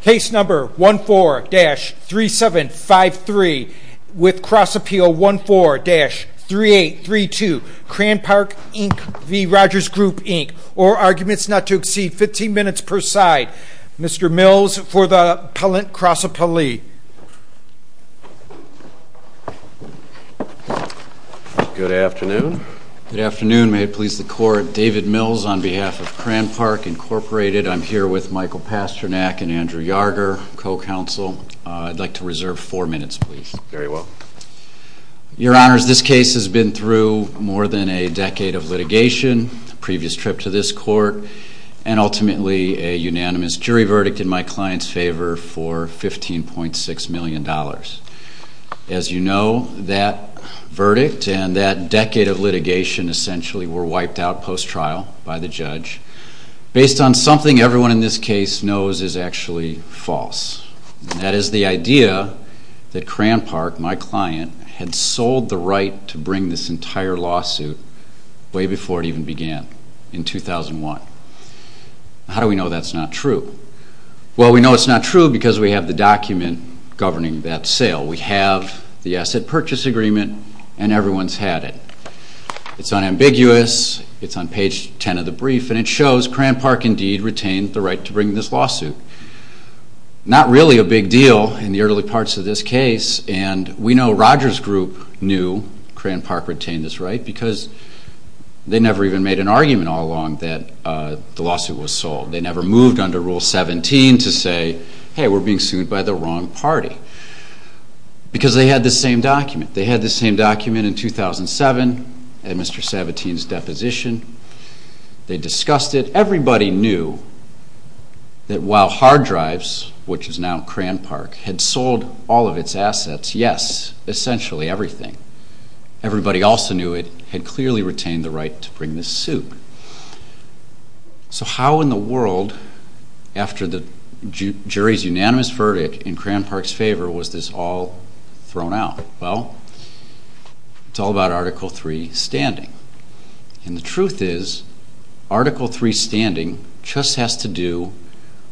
Case number 14-3753 with cross-appeal 14-3832 Cranpark Inc v. Rogers Group Inc or arguments not to exceed 15 minutes per side. Mr. Mills for the appellant cross-appellee. Good afternoon. Good afternoon. May it please the court, David Mills on behalf of Cranpark Incorporated. I'm here with Michael Pasternak and Andrew Yarger, co-counsel. I'd like to reserve four minutes, please. Very well. Your Honors, this case has been through more than a decade of litigation, a previous trip to this court, and ultimately a unanimous jury verdict in my client's favor for $15.6 million. As you know, that verdict and that decade of litigation essentially were wiped out post-trial by the judge based on something everyone in this case knows is actually false. That is the idea that Cranpark, my client, had sold the right to bring this entire lawsuit way before it even began in 2001. How do we know that's not true? Well, we know it's not true because we have the document governing that sale. We have the asset purchase agreement and everyone's had it. It's unambiguous. It's on page 10 of the brief and it shows Cranpark indeed retained the right to bring this lawsuit. Not really a big deal in the early parts of this case and we know Roger's group knew Cranpark retained this right because they never even made an argument all along that the lawsuit was sold. They never moved under Rule 17 to say, hey, we're being sued by the wrong party because they had the same document. They had the same document in 2007 at Mr. Sabatini's deposition. They discussed it. Everybody knew that while Hard Drives, which is now Cranpark, had sold all of its assets, yes, essentially everything, everybody also knew it had clearly retained the right to bring this suit. So how in the world, after the jury's unanimous verdict in Cranpark's favor, was this all thrown out? Well, it's all about Article 3 standing. And the truth is Article 3 standing just has to do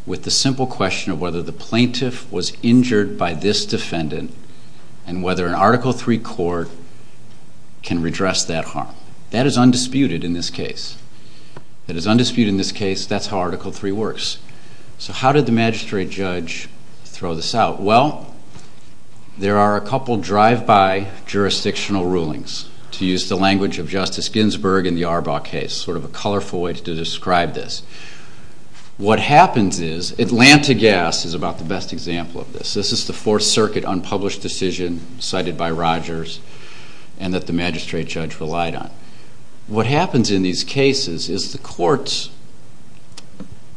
with the simple question of whether the plaintiff was injured by this defendant and whether an Article 3 court can redress that harm. That is undisputed in this case. That is undisputed in this case. That's how Article 3 works. So how did the magistrate judge throw this out? Well, there are a couple drive-by jurisdictional rulings, to use the language of Justice Ginsburg in the Arbaugh case, sort of a colorful way to describe this. What happens is, Atlanta Gas is about the best example of this. This is the Fourth Circuit unpublished decision cited by Rogers and that the magistrate judge relied on. What happens in these cases is the courts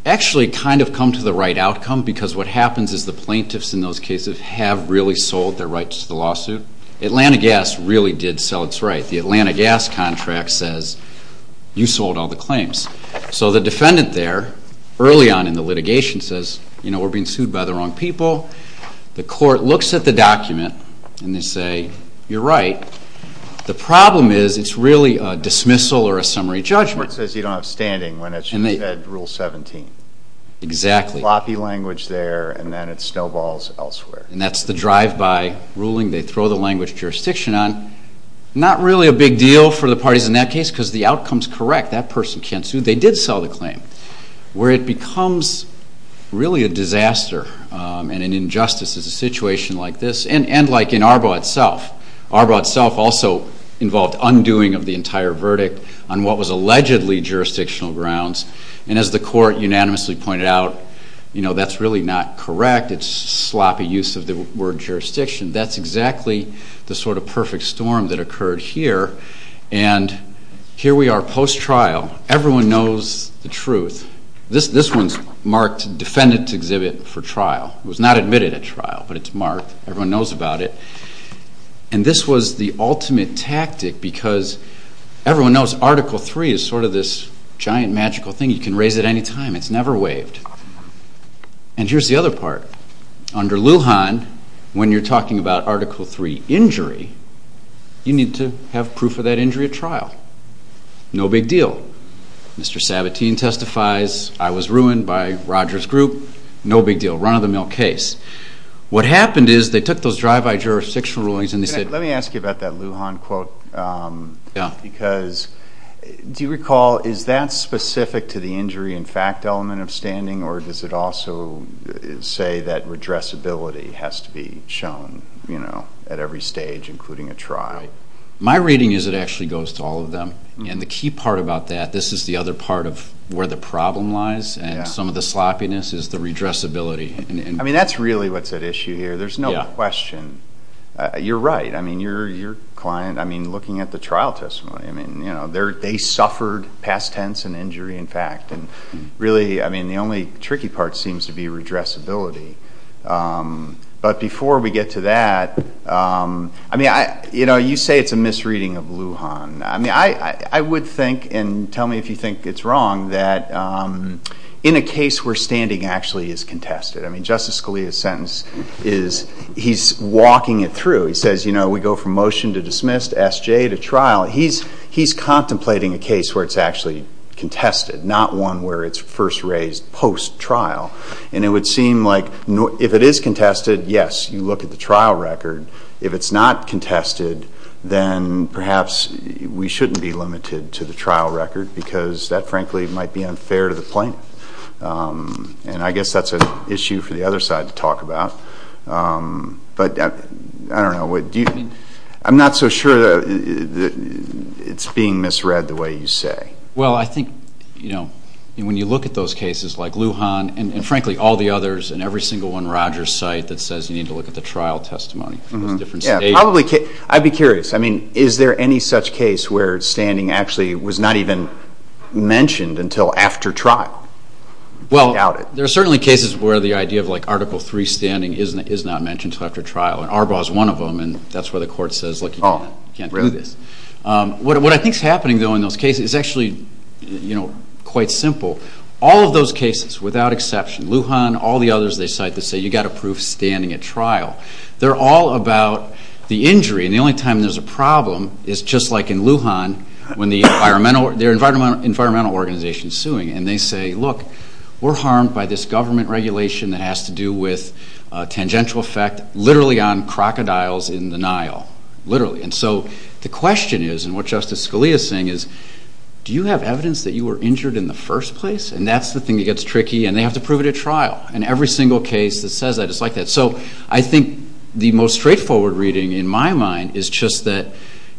actually kind of come to the right outcome because what happens is the plaintiffs in those cases have really sold their rights to the lawsuit. Atlanta Gas really did sell its rights. The Atlanta Gas contract says, you sold all the claims. So the defendant there, early on in the litigation, says, you know, we're being sued by the wrong people. The court looks at the document and they say, you're right. The problem is it's really a dismissal or a summary judgment. The court says you don't have standing when it's rule 17. Exactly. It's sloppy language there and then it snowballs elsewhere. And that's the drive-by ruling they throw the language of jurisdiction on. Not really a big deal for the parties in that case because the outcome is correct. That person can't sue. They did sell the claim. Where it becomes really a disaster and an injustice is a situation like this and like in Arbo itself. Arbo itself also involved undoing of the entire verdict on what was allegedly jurisdictional grounds. And as the court unanimously pointed out, you know, that's really not correct. It's sloppy use of the word jurisdiction. That's exactly the sort of perfect storm that occurred here. And here we are post-trial. Everyone knows the truth. This one's marked Defendant Exhibit for Trial. It was not admitted at trial, but it's marked. Everyone knows about it. And this was the ultimate tactic because everyone knows Article 3 is sort of this giant, magical thing. You can raise it any time. It's never waived. And here's the other part. Under Lujan, when you're talking about Article 3 injury, you need to have proof of that injury at trial. No big deal. Mr. Sabatini testifies, I was ruined by Roger's group. No big deal. Run-of-the-mill case. What happened is they took those drive-by jurisdictional rulings and they said... Let me ask you about that Lujan quote. Yeah. Do you recall, is that specific to the injury and fact element of standing, or does it also say that redressability has to be shown at every stage, including a try? My reading is it actually goes to all of them. And the key part about that, this is the other part of where the problem lies, and some of the sloppiness is the redressability. I mean, that's really what's at issue here. There's no question. You're right. I mean, your client, I mean, looking at the trial testimony, I mean, you know, they suffered past tense and injury and fact. And really, I mean, the only tricky part seems to be redressability. But before we get to that, I mean, you know, you say it's a misreading of Lujan. I mean, I would think, and tell me if you think it's wrong, that in a case where standing actually is contested, I mean, Justice Scalia's sentence is he's walking it through. He says, you know, we go from motion to dismiss to SJ to trial. He's contemplating a case where it's actually contested, not one where it's first raised post-trial. And it would seem like if it is contested, yes, you look at the trial record. If it's not contested, then perhaps we shouldn't be limited to the trial record, because that, frankly, might be unfair to the plaintiff. And I guess that's an issue for the other side to talk about. But I don't know. I'm not so sure that it's being misread the way you say. Well, I think, you know, when you look at those cases like Lujan and, frankly, all the others, and every single one Roger's cite that says you need to look at the trial testimony for those different stages. Yeah, probably. I'd be curious. I mean, is there any such case where standing actually was not even mentioned until after trial? Well, there are certainly cases where the idea of, like, Article III standing is not mentioned until after trial, and Arbaugh is one of them, and that's where the court says, look, you can't do this. What I think is happening, though, in those cases is actually, you know, quite simple. All of those cases, without exception, Lujan, all the others they cite that say you've got to prove standing at trial, they're all about the injury, and the only time there's a problem is just like in Lujan when the environmental organization is suing, and they say, look, we're harmed by this government regulation that has to do with tangential effect literally on crocodiles in the Nile. Literally. And so the question is, and what Justice Scalia is saying is, do you have evidence that you were injured in the first place? And that's the thing that gets tricky, and they have to prove it at trial. And every single case that says that is like that. So I think the most straightforward reading in my mind is just that,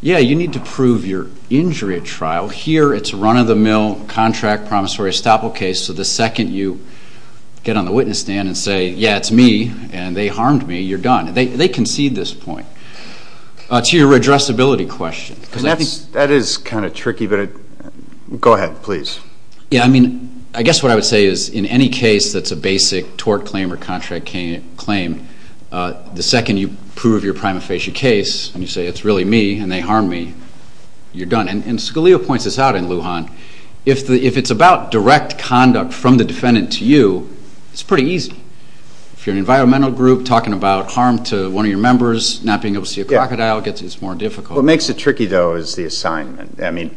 yeah, you need to prove your injury at trial. Here it's a run-of-the-mill contract promissory estoppel case, so the second you get on the witness stand and say, yeah, it's me, and they harmed me, you're done. They concede this point. To your addressability question. That is kind of tricky, but go ahead, please. Yeah, I mean, I guess what I would say is in any case that's a basic tort claim or contract claim, the second you prove your prima facie case and you say it's really me and they harmed me, you're done. And Scalia points this out in Lujan. If it's about direct conduct from the defendant to you, it's pretty easy. If you're an environmental group talking about harm to one of your members, not being able to see a crocodile, it's more difficult. What makes it tricky, though, is the assignment. I mean,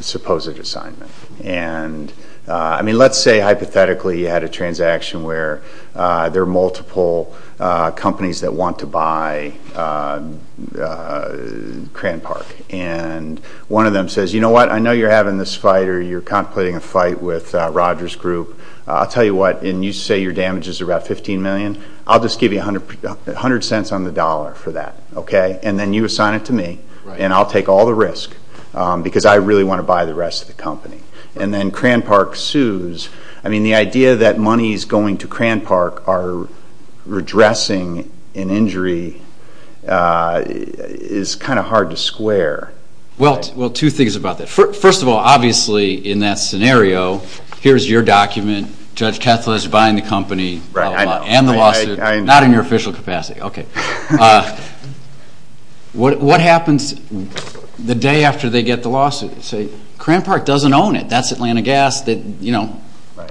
supposed assignment. And, I mean, let's say hypothetically you had a transaction where there are multiple companies that want to buy Cran Park. And one of them says, you know what, I know you're having this fight or you're contemplating a fight with Rogers Group. I'll tell you what, and you say your damage is about $15 million, I'll just give you 100 cents on the dollar for that, okay? And then you assign it to me and I'll take all the risk because I really want to buy the rest of the company. And then Cran Park sues. I mean, the idea that money is going to Cran Park or redressing an injury is kind of hard to square. Well, two things about that. First of all, obviously in that scenario, here's your document, Judge Kethledge buying the company and the lawsuit, not in your official capacity. Okay. Cran Park doesn't own it. That's Atlanta Gas that, you know,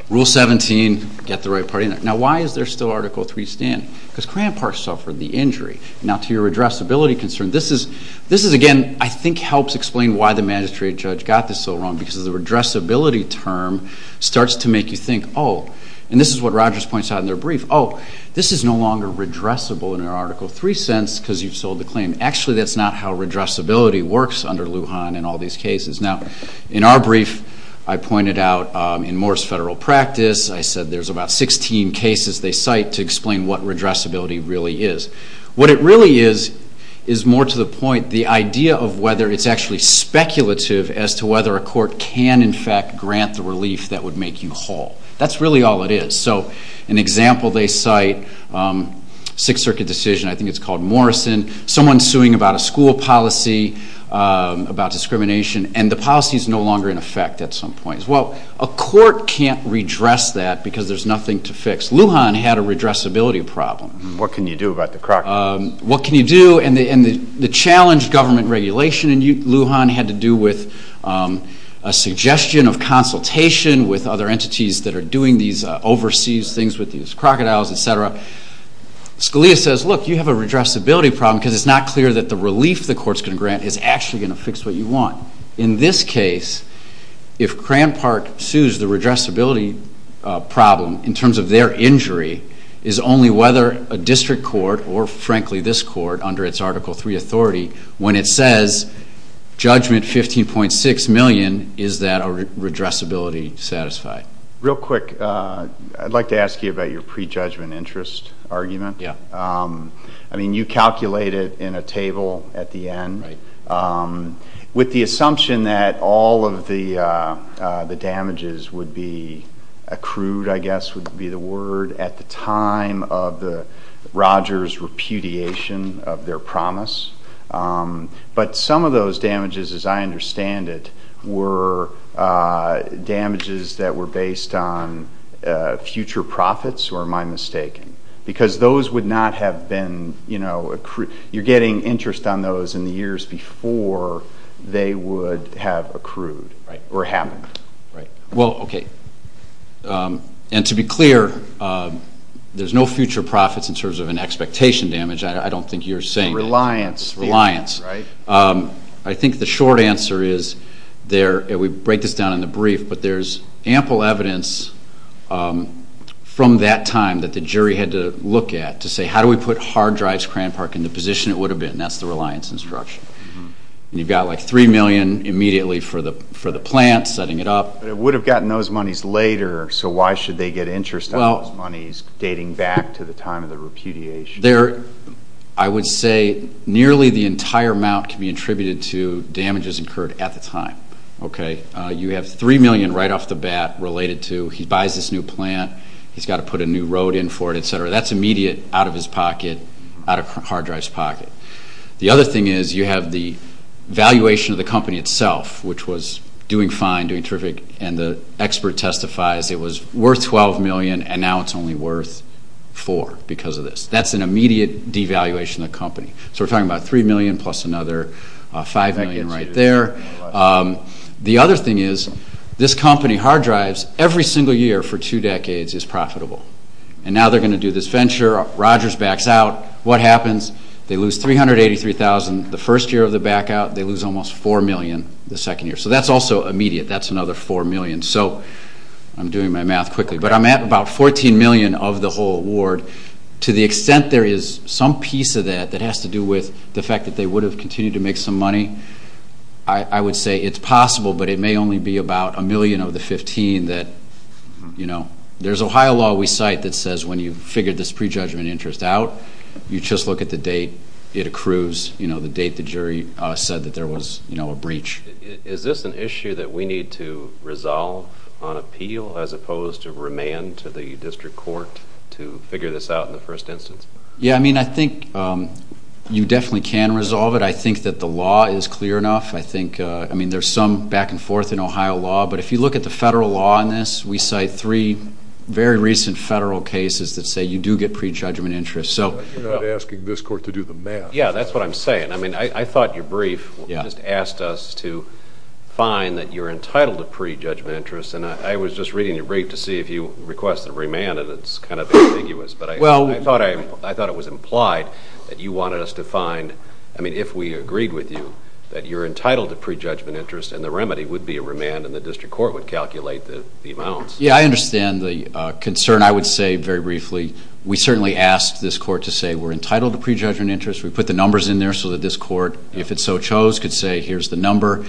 Rule 17, get the right party in there. Now, why is there still Article 3 stand? Because Cran Park suffered the injury. Now, to your redressability concern, this is, again, I think helps explain why the magistrate judge got this so wrong because the redressability term starts to make you think, oh, and this is what Rogers points out in their brief, oh, this is no longer redressable under Article 3 since because you've sold the claim. Actually, that's not how redressability works under Lujan in all these cases. Now, in our brief, I pointed out in Moore's Federal Practice, I said there's about 16 cases they cite to explain what redressability really is. What it really is is more to the point the idea of whether it's actually speculative as to whether a court can, in fact, grant the relief that would make you whole. That's really all it is. So an example they cite, Sixth Circuit decision, I think it's called Morrison. Someone's suing about a school policy, about discrimination, and the policy's no longer in effect at some point. Well, a court can't redress that because there's nothing to fix. Lujan had a redressability problem. What can you do about the crocodile? What can you do? And the challenge government regulation in Lujan had to do with a suggestion of consultation with other entities that are doing these overseas things with these crocodiles, etc. Scalia says, look, you have a redressability problem because it's not clear that the relief the court's going to grant is actually going to fix what you want. In this case, if Cran Park sues the redressability problem in terms of their injury, is only whether a district court or, frankly, this court under its Article III authority, when it says judgment $15.6 million, is that a redressability satisfied? Real quick, I'd like to ask you about your prejudgment interest argument. Yeah. I mean, you calculate it in a table at the end. Right. With the assumption that all of the damages would be accrued, I guess would be the word, at the time of the Rogers repudiation of their promise. But some of those damages, as I understand it, were damages that were based on future profits, or am I mistaken? Because those would not have been, you know, you're getting interest on those in the years before they would have accrued or happened. Right. Well, okay. And to be clear, there's no future profits in terms of an expectation damage. I don't think you're saying that. Reliance. Reliance. Right. I think the short answer is there, and we break this down in the brief, but there's ample evidence from that time that the jury had to look at to say, how do we put Hard Drives Crane Park in the position it would have been? And that's the reliance instruction. And you've got, like, $3 million immediately for the plant, setting it up. But it would have gotten those monies later, so why should they get interest on those monies dating back to the time of the repudiation? I would say nearly the entire amount can be attributed to damages incurred at the time. Okay? You have $3 million right off the bat related to he buys this new plant, he's got to put a new road in for it, et cetera. That's immediate out of his pocket, out of Hard Drive's pocket. The other thing is you have the valuation of the company itself, which was doing fine, doing terrific, and the expert testifies it was worth $12 million and now it's only worth $4 because of this. That's an immediate devaluation of the company. So we're talking about $3 million plus another $5 million right there. The other thing is this company, Hard Drives, every single year for two decades is profitable. And now they're going to do this venture, Rogers backs out, what happens? They lose $383,000 the first year of the back out, they lose almost $4 million the second year. So that's also immediate. That's another $4 million. So I'm doing my math quickly. But I'm at about $14 million of the whole award. To the extent there is some piece of that that has to do with the fact that they would have continued to make some money, I would say it's possible, but it may only be about a million of the 15 that, you know. There's Ohio law we cite that says when you've figured this prejudgment interest out, you just look at the date it accrues, you know, the date the jury said that there was, you know, a breach. Is this an issue that we need to resolve on appeal as opposed to remand to the district court to figure this out in the first instance? Yeah, I mean, I think you definitely can resolve it. I think that the law is clear enough. I think, I mean, there's some back and forth in Ohio law. But if you look at the federal law on this, we cite three very recent federal cases that say you do get prejudgment interest. You're not asking this court to do the math. Yeah, that's what I'm saying. I mean, I thought your brief just asked us to find that you're entitled to prejudgment interest, and I was just reading your brief to see if you request a remand, and it's kind of ambiguous. But I thought it was implied that you wanted us to find, I mean, if we agreed with you, that you're entitled to prejudgment interest and the remedy would be a remand and the district court would calculate the amounts. Yeah, I understand the concern. I would say very briefly we certainly asked this court to say we're entitled to prejudgment interest. We put the numbers in there so that this court, if it so chose, could say here's the number.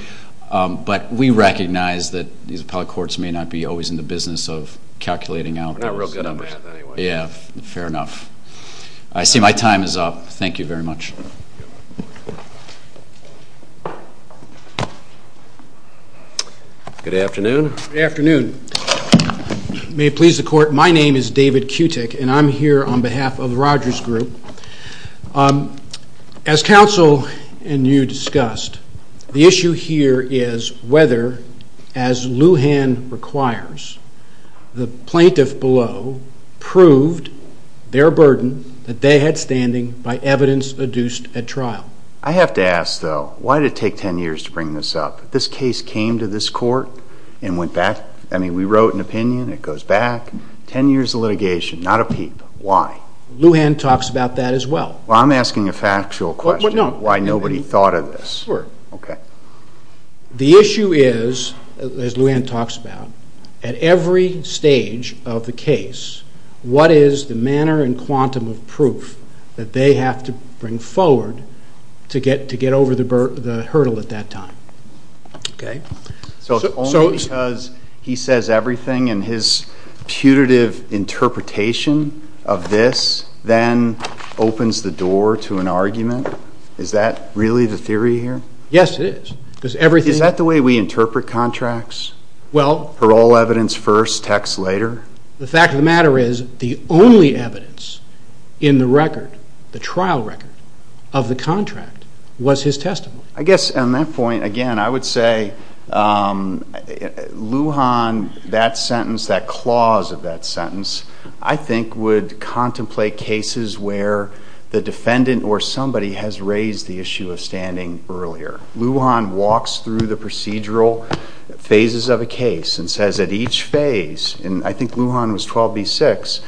But we recognize that these appellate courts may not be always in the business of calculating out those numbers. We're not real good at math anyway. Yeah, fair enough. I see my time is up. Thank you very much. Good afternoon. Good afternoon. May it please the court, my name is David Cutick, and I'm here on behalf of Rogers Group. As counsel and you discussed, the issue here is whether, as Lujan requires, the plaintiff below proved their burden that they had standing by evidence adduced at trial. I have to ask, though, why did it take 10 years to bring this up? This case came to this court and went back. I mean, we wrote an opinion. It goes back 10 years of litigation, not a peep. Why? Lujan talks about that as well. Well, I'm asking a factual question, why nobody thought of this. Sure. Okay. The issue is, as Lujan talks about, at every stage of the case, what is the manner and quantum of proof that they have to bring forward to get over the hurdle at that time? Okay. So it's only because he says everything and his putative interpretation of this then opens the door to an argument? Is that really the theory here? Yes, it is. Is that the way we interpret contracts? Parole evidence first, text later? The fact of the matter is the only evidence in the record, the trial record, of the contract was his testimony. I guess on that point, again, I would say Lujan, that sentence, that clause of that sentence, I think would contemplate cases where the defendant or somebody has raised the issue of standing earlier. Lujan walks through the procedural phases of a case and says at each phase, and I think Lujan was 12B6,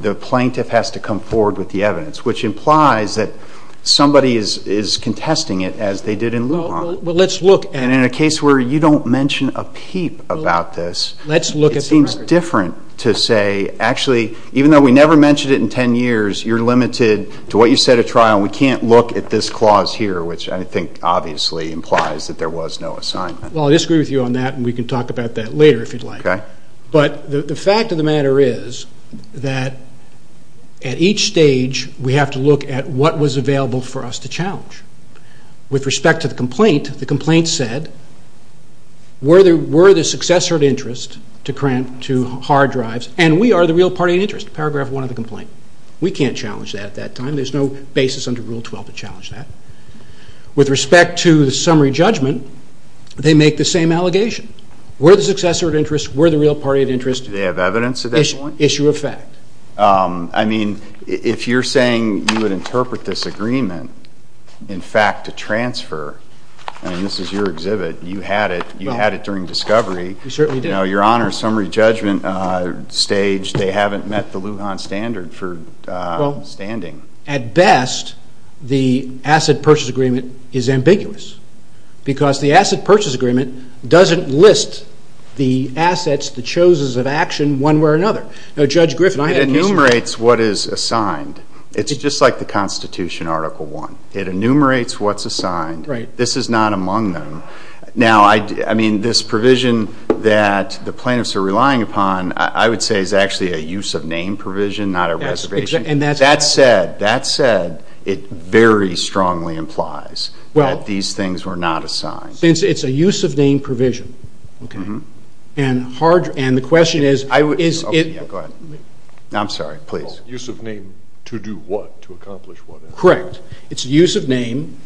the plaintiff has to come forward with the evidence, which implies that somebody is contesting it as they did in Lujan. Well, let's look at it. And in a case where you don't mention a peep about this, it seems different to say actually, even though we never mentioned it in 10 years, you're limited to what you said at trial and we can't look at this clause here, which I think obviously implies that there was no assignment. Well, I disagree with you on that and we can talk about that later if you'd like. Okay. But the fact of the matter is that at each stage, we have to look at what was available for us to challenge. With respect to the complaint, the complaint said, we're the successor of interest to hard drives and we are the real party of interest, paragraph one of the complaint. We can't challenge that at that time. There's no basis under Rule 12 to challenge that. With respect to the summary judgment, they make the same allegation. We're the successor of interest. We're the real party of interest. Do they have evidence at that point? Issue of fact. I mean, if you're saying you would interpret this agreement, in fact, to transfer, I mean, this is your exhibit. You had it. You had it during discovery. We certainly did. Your Honor, summary judgment stage, they haven't met the Lujan standard for standing. At best, the asset purchase agreement is ambiguous because the asset purchase agreement doesn't list the assets, the choses of action, one way or another. Now, Judge Griffin, I had an issue. It enumerates what is assigned. It's just like the Constitution, Article I. It enumerates what's assigned. This is not among them. Now, I mean, this provision that the plaintiffs are relying upon, I would say, is actually a use of name provision, not a reservation. That said, that said, it very strongly implies that these things were not assigned. It's a use of name provision. Okay. And the question is, is it? Go ahead. I'm sorry. Please. Use of name to do what? To accomplish what? Correct. It's use of name.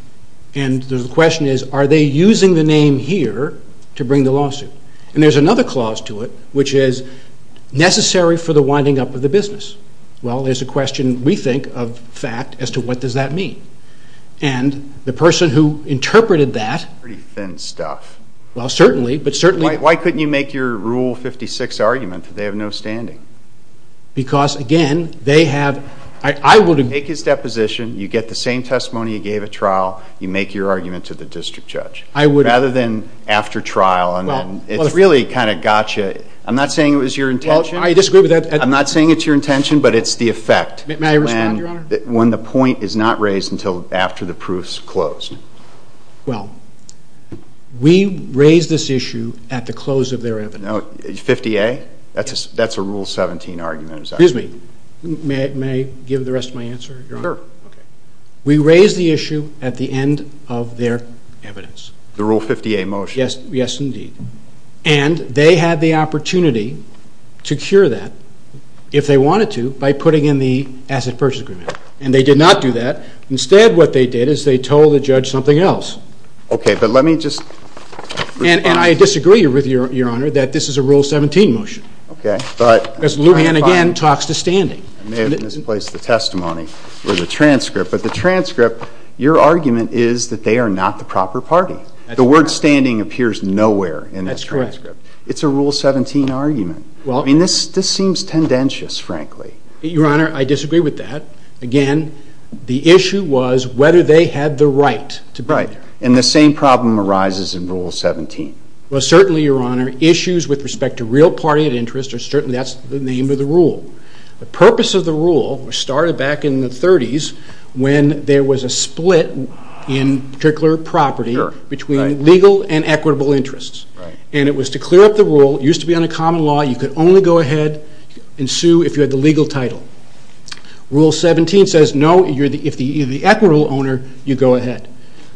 And the question is, are they using the name here to bring the lawsuit? And there's another clause to it, which is necessary for the winding up of the business. Well, there's a question, we think, of fact as to what does that mean. And the person who interpreted that. Pretty thin stuff. Well, certainly. But certainly. Why couldn't you make your Rule 56 argument that they have no standing? Because, again, they have. I would. You take his deposition. You get the same testimony you gave at trial. You make your argument to the district judge. I would. Rather than after trial. And it's really kind of got you. I'm not saying it was your intention. I disagree with that. I'm not saying it's your intention, but it's the effect. May I respond, Your Honor? When the point is not raised until after the proof's closed. Well, we raise this issue at the close of their evidence. 50A? Yes. That's a Rule 17 argument. Excuse me. May I give the rest of my answer, Your Honor? Sure. Okay. We raise the issue at the end of their evidence. The Rule 50A motion. Yes. Yes, indeed. And they had the opportunity to cure that, if they wanted to, by putting in the asset purchase agreement. And they did not do that. Instead, what they did is they told the judge something else. Okay. But let me just respond. And I disagree with you, Your Honor, that this is a Rule 17 motion. Okay. Because Lujan, again, talks to standing. I may have misplaced the testimony or the transcript. But the transcript, your argument is that they are not the proper party. The word standing appears nowhere in this transcript. That's correct. It's a Rule 17 argument. I mean, this seems tendentious, frankly. Your Honor, I disagree with that. Again, the issue was whether they had the right to be there. Right. And the same problem arises in Rule 17. Well, certainly, Your Honor, issues with respect to real party interests, certainly that's the name of the rule. The purpose of the rule started back in the 30s when there was a split in particular property between legal and equitable interests. Right. And it was to clear up the rule. It used to be unaccompanied law. You could only go ahead and sue if you had the legal title. Rule 17 says, no, if you're the equitable owner, you go ahead.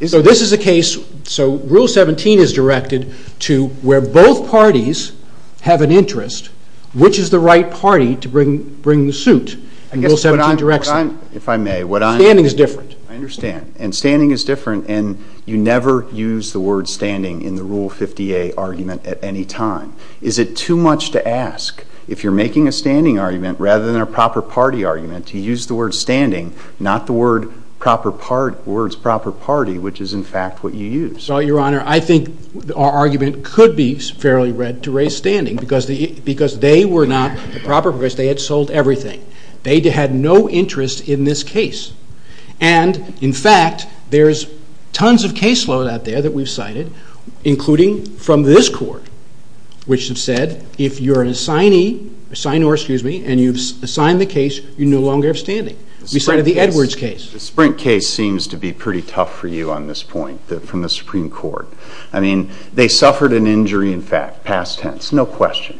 So this is a case so Rule 17 is directed to where both parties have an interest, which is the right party to bring the suit in Rule 17 direction. If I may, what I'm saying is different. I understand. And standing is different. And you never use the word standing in the Rule 50A argument at any time. Is it too much to ask, if you're making a standing argument rather than a proper party argument, to use the word standing, not the words proper party, which is, in fact, what you use? Well, Your Honor, I think our argument could be fairly read to raise standing because they were not the proper parties. They had sold everything. They had no interest in this case. And, in fact, there's tons of caseload out there that we've cited, including from this court, which have said if you're an assignee and you've assigned the case, you're no longer standing. We cited the Edwards case. The Sprint case seems to be pretty tough for you on this point from the Supreme Court. I mean, they suffered an injury in fact, past tense, no question.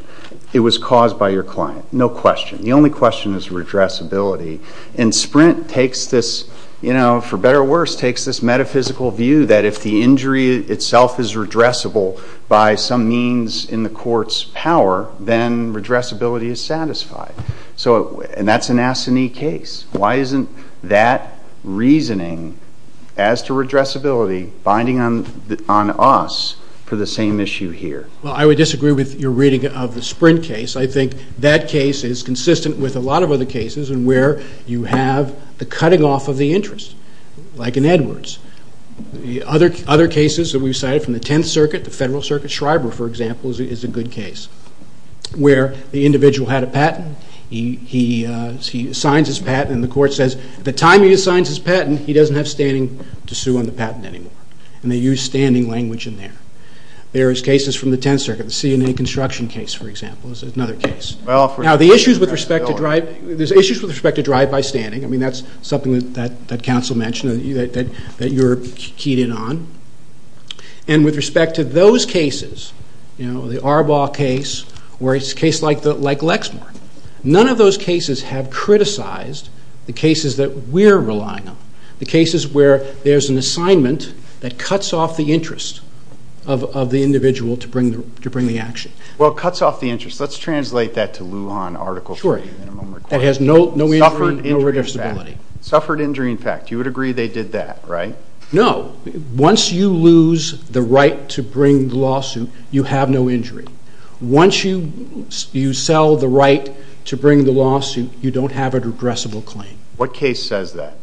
It was caused by your client, no question. The only question is redressability. And Sprint takes this, you know, for better or worse, takes this metaphysical view that if the injury itself is redressable by some means in the court's power, then redressability is satisfied. And that's an assignee case. Why isn't that reasoning as to redressability binding on us for the same issue here? Well, I would disagree with your reading of the Sprint case. I think that case is consistent with a lot of other cases in where you have the cutting off of the interest, like in Edwards. Other cases that we've cited from the Tenth Circuit, the Federal Circuit Schreiber, for example, is a good case, where the individual had a patent. He signs his patent and the court says the time he signs his patent, he doesn't have standing to sue on the patent anymore. And they use standing language in there. There are cases from the Tenth Circuit, the CNA construction case, for example. There's another case. Now, there's issues with respect to drive by standing. I mean, that's something that counsel mentioned that you're keyed in on. And with respect to those cases, you know, the Arbaugh case, or a case like Lexmark, none of those cases have criticized the cases that we're relying on, the cases where there's an assignment that cuts off the interest of the individual to bring the action. Well, it cuts off the interest. Let's translate that to Lujan Article 3. Sure. That has no injury and no regressibility. Suffered injury in fact. You would agree they did that, right? No. Once you lose the right to bring the lawsuit, you have no injury. Once you sell the right to bring the lawsuit, you don't have a regressible claim. What case says that?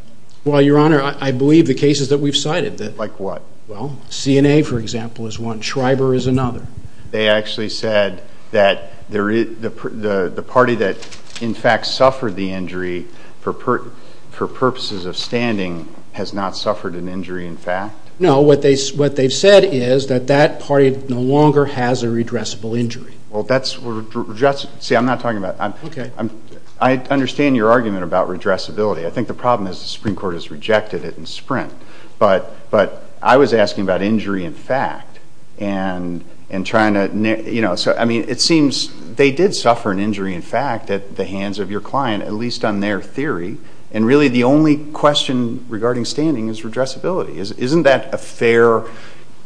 Well, Your Honor, I believe the cases that we've cited. Like what? Well, CNA, for example, is one. Schreiber is another. They actually said that the party that, in fact, suffered the injury for purposes of standing has not suffered an injury in fact? No. What they've said is that that party no longer has a regressible injury. Well, that's regressible. See, I'm not talking about. Okay. I understand your argument about regressibility. I think the problem is the Supreme Court has rejected it in Sprint. But I was asking about injury in fact. It seems they did suffer an injury in fact at the hands of your client, at least on their theory. And really the only question regarding standing is regressibility. Isn't that a fair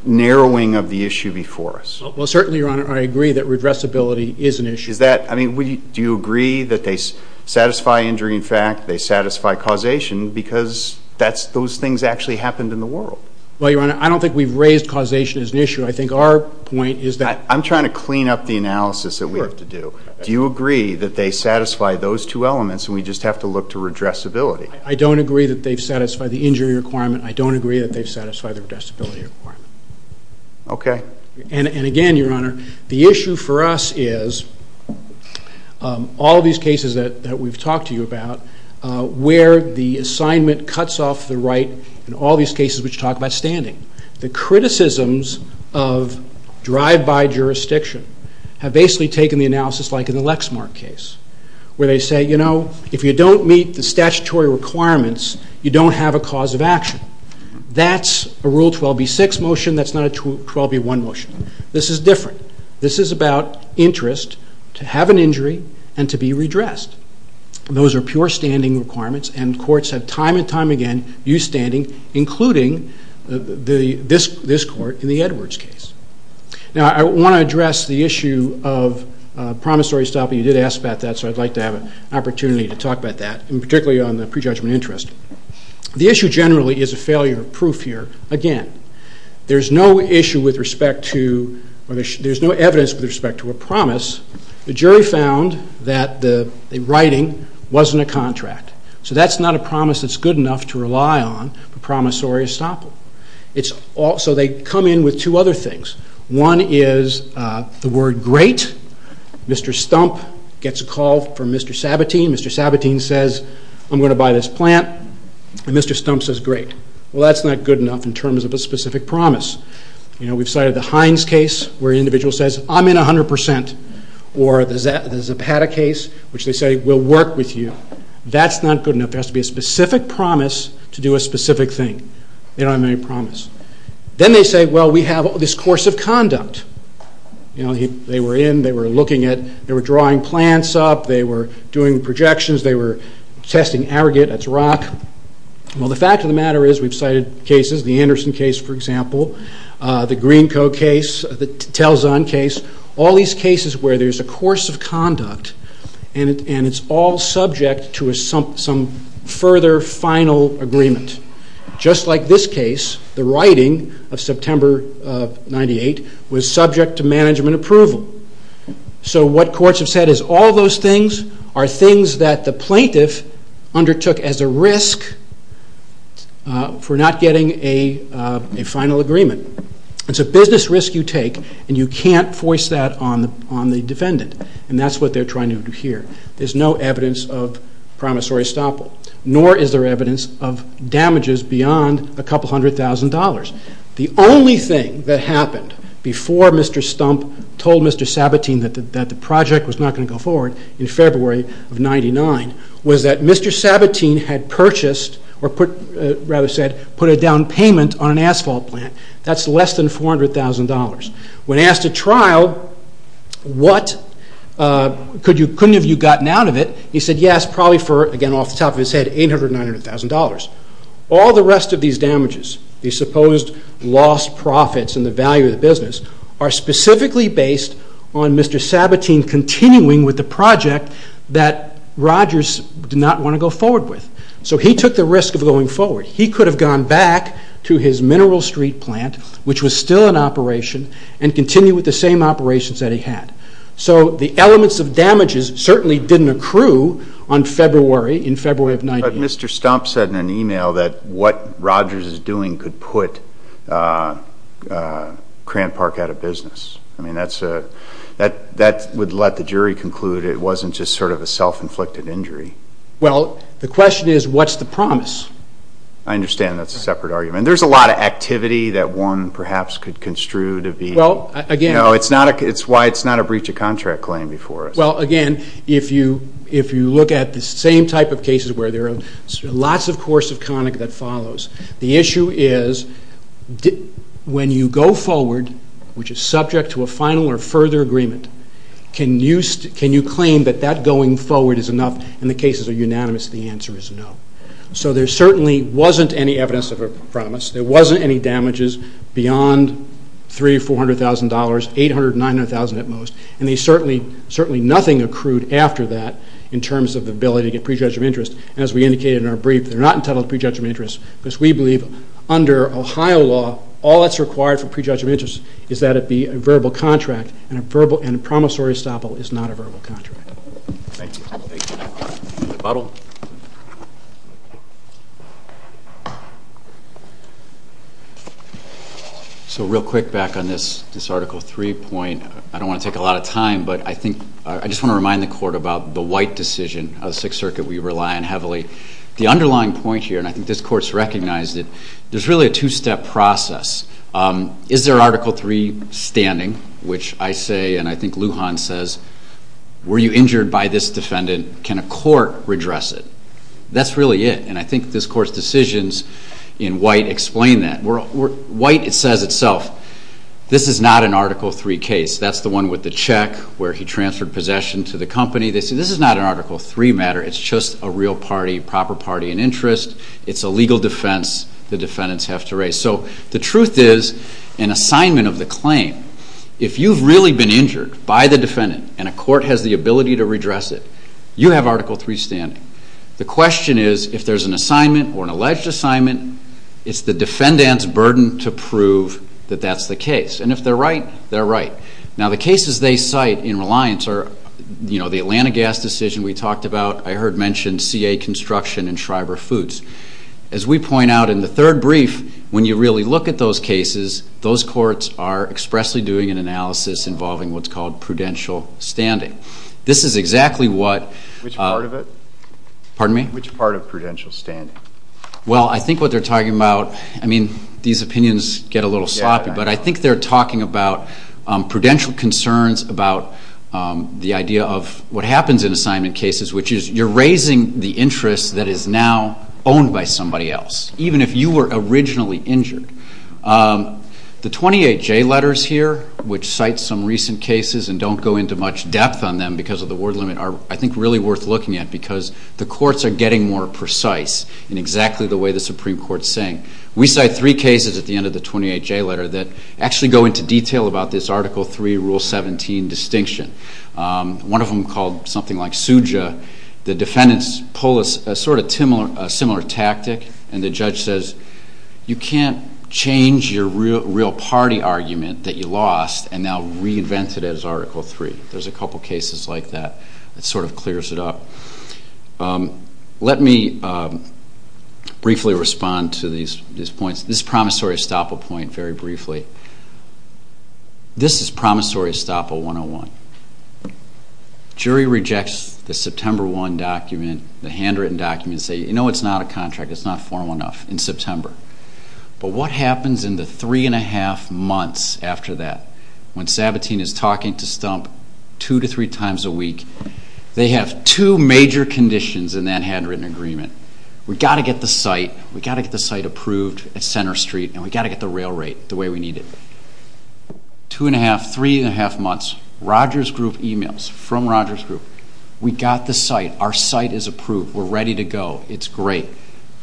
narrowing of the issue before us? Well, certainly, Your Honor, I agree that regressibility is an issue. Do you agree that they satisfy injury in fact, they satisfy causation, because those things actually happened in the world? Well, Your Honor, I don't think we've raised causation as an issue. I think our point is that. I'm trying to clean up the analysis that we have to do. Do you agree that they satisfy those two elements and we just have to look to regressibility? I don't agree that they've satisfied the injury requirement. I don't agree that they've satisfied the regressibility requirement. Okay. And again, Your Honor, the issue for us is all these cases that we've talked to you about where the assignment cuts off the right in all these cases which talk about standing. The criticisms of drive-by jurisdiction have basically taken the analysis like in the Lexmark case where they say, you know, if you don't meet the statutory requirements, you don't have a cause of action. That's a Rule 12b-6 motion. That's not a 12b-1 motion. This is different. This is about interest to have an injury and to be redressed. Those are pure standing requirements, and courts have time and time again used standing including this court in the Edwards case. Now, I want to address the issue of promissory stopping. You did ask about that, so I'd like to have an opportunity to talk about that, and particularly on the prejudgment interest. The issue generally is a failure of proof here. Again, there's no issue with respect to or there's no evidence with respect to a promise. The jury found that the writing wasn't a contract. So that's not a promise that's good enough to rely on for promissory stopping. So they come in with two other things. One is the word great. Mr. Stump gets a call from Mr. Sabatini. Mr. Sabatini says, I'm going to buy this plant, and Mr. Stump says great. Well, that's not good enough in terms of a specific promise. We've cited the Heinz case where an individual says, I'm in 100%, or the Zapata case, which they say, we'll work with you. That's not good enough. There has to be a specific promise to do a specific thing. They don't have any promise. Then they say, well, we have this course of conduct. They were in. They were looking at. They were drawing plants up. They were doing projections. They were testing aggregate. That's rock. Well, the fact of the matter is we've cited cases, the Anderson case, for example, the Greenco case, the Telzon case, all these cases where there's a course of conduct and it's all subject to some further final agreement. Just like this case, the writing of September of 1998, was subject to management approval. So what courts have said is all those things are things that the plaintiff undertook as a risk for not getting a final agreement. It's a business risk you take, and you can't force that on the defendant, and that's what they're trying to do here. There's no evidence of promissory estoppel, nor is there evidence of damages beyond a couple hundred thousand dollars. The only thing that happened before Mr. Stump told Mr. Sabatini that the project was not going to go forward in February of 1999 was that Mr. Sabatini had purchased, or rather said, put a down payment on an asphalt plant. That's less than $400,000. When asked at trial, couldn't have you gotten out of it? He said, yes, probably for, again, off the top of his head, $800,000, $900,000. All the rest of these damages, these supposed lost profits and the value of the business, are specifically based on Mr. Sabatini continuing with the project that Rogers did not want to go forward with. So he took the risk of going forward. He could have gone back to his Mineral Street plant, which was still in operation, and continued with the same operations that he had. So the elements of damages certainly didn't accrue on February, in February of 1999. But Mr. Stump said in an email that what Rogers is doing could put Crant Park out of business. I mean, that would let the jury conclude it wasn't just sort of a self-inflicted injury. Well, the question is, what's the promise? I understand that's a separate argument. There's a lot of activity that one perhaps could construe to be. It's why it's not a breach of contract claim before us. Well, again, if you look at the same type of cases where there are lots of course of conduct that follows, the issue is when you go forward, which is subject to a final or further agreement, can you claim that that going forward is enough and the cases are unanimous? The answer is no. So there certainly wasn't any evidence of a promise. There wasn't any damages beyond $300,000 or $400,000, $800,000 or $900,000 at most. And certainly nothing accrued after that in terms of the ability to get pre-judgment interest. As we indicated in our brief, they're not entitled to pre-judgment interest because we believe under Ohio law, all that's required for pre-judgment interest is that it be a verbal contract, and a promissory estoppel is not a verbal contract. Thank you. Thank you. Mr. Buttle. So real quick, back on this Article 3 point. I don't want to take a lot of time, but I just want to remind the Court about the White decision of the Sixth Circuit we rely on heavily. The underlying point here, and I think this Court's recognized it, there's really a two-step process. Is there Article 3 standing, which I say and I think Lujan says, were you injured by this defendant? Can a court redress it? That's really it, and I think this Court's decisions in White explain that. White says itself, this is not an Article 3 case. That's the one with the check where he transferred possession to the company. They say this is not an Article 3 matter. It's just a real party, proper party and interest. It's a legal defense the defendants have to raise. So the truth is, an assignment of the claim, if you've really been injured by the defendant and a court has the ability to redress it, you have Article 3 standing. The question is, if there's an assignment or an alleged assignment, it's the defendant's burden to prove that that's the case. And if they're right, they're right. Now the cases they cite in Reliance are, you know, the Atlanta gas decision we talked about. I heard mentioned CA Construction and Schreiber Foods. As we point out in the third brief, when you really look at those cases, those courts are expressly doing an analysis involving what's called prudential standing. This is exactly what... Which part of it? Pardon me? Which part of prudential standing? Well, I think what they're talking about, I mean, these opinions get a little sloppy, but I think they're talking about prudential concerns, about the idea of what happens in assignment cases, which is you're raising the interest that is now owned by somebody else, even if you were originally injured. The 28J letters here, which cite some recent cases and don't go into much depth on them because of the word limit, are, I think, really worth looking at because the courts are getting more precise in exactly the way the Supreme Court is saying. We cite three cases at the end of the 28J letter that actually go into detail about this Article 3, Rule 17 distinction. One of them called something like suja. The defendants pull a sort of similar tactic, and the judge says, you can't change your real party argument that you lost and now reinvent it as Article 3. There's a couple cases like that. It sort of clears it up. Let me briefly respond to these points. This is a promissory estoppel point, very briefly. This is promissory estoppel 101. Jury rejects the September 1 document, the handwritten document, and says, you know, it's not a contract. It's not formal enough in September. But what happens in the three and a half months after that when Sabatini is talking to Stump two to three times a week? They have two major conditions in that handwritten agreement. We've got to get the site. We've got to get the site approved at Center Street, and we've got to get the rail rate the way we need it. Two and a half, three and a half months, Rogers Group emails from Rogers Group. We got the site. Our site is approved. We're ready to go. It's great.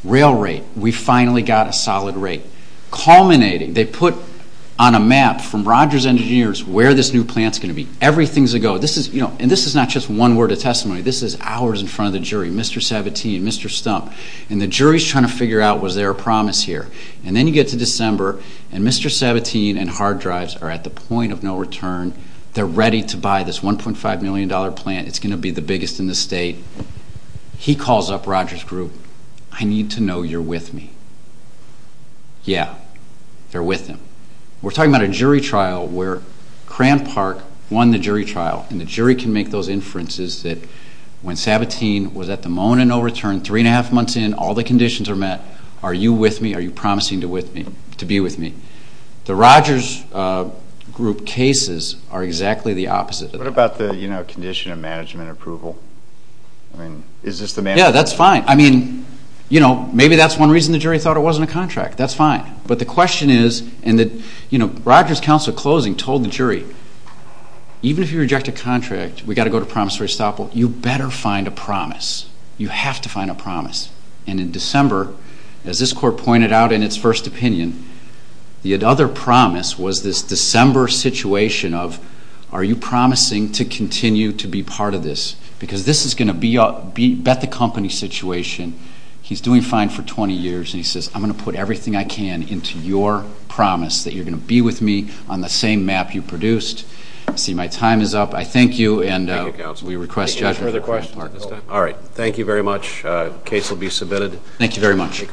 Rail rate, we finally got a solid rate. Culminating, they put on a map from Rogers Engineers where this new plant's going to be. Everything's a go. And this is not just one word of testimony. This is hours in front of the jury, Mr. Sabatini and Mr. Stump, and the jury's trying to figure out was there a promise here. And then you get to December, and Mr. Sabatini and Hard Drives are at the point of no return. They're ready to buy this $1.5 million plant. It's going to be the biggest in the state. He calls up Rogers Group. I need to know you're with me. Yeah, they're with him. We're talking about a jury trial where Cran Park won the jury trial, and the jury can make those inferences that when Sabatini was at the moment of no return, three and a half months in, all the conditions are met, are you with me, are you promising to be with me. The Rogers Group cases are exactly the opposite of that. What about the condition of management approval? Yeah, that's fine. I mean, maybe that's one reason the jury thought it wasn't a contract. That's fine. But the question is, and Rogers Council at closing told the jury, even if you reject a contract, we've got to go to promissory stop. You better find a promise. You have to find a promise. And in December, as this court pointed out in its first opinion, the other promise was this December situation of, are you promising to continue to be part of this? Because this is going to be a bet-the-company situation. He's doing fine for 20 years, and he says, I'm going to put everything I can into your promise that you're going to be with me on the same map you produced. I see my time is up. I thank you, and we request judgment. All right. Thank you very much. The case will be submitted. Thank you very much.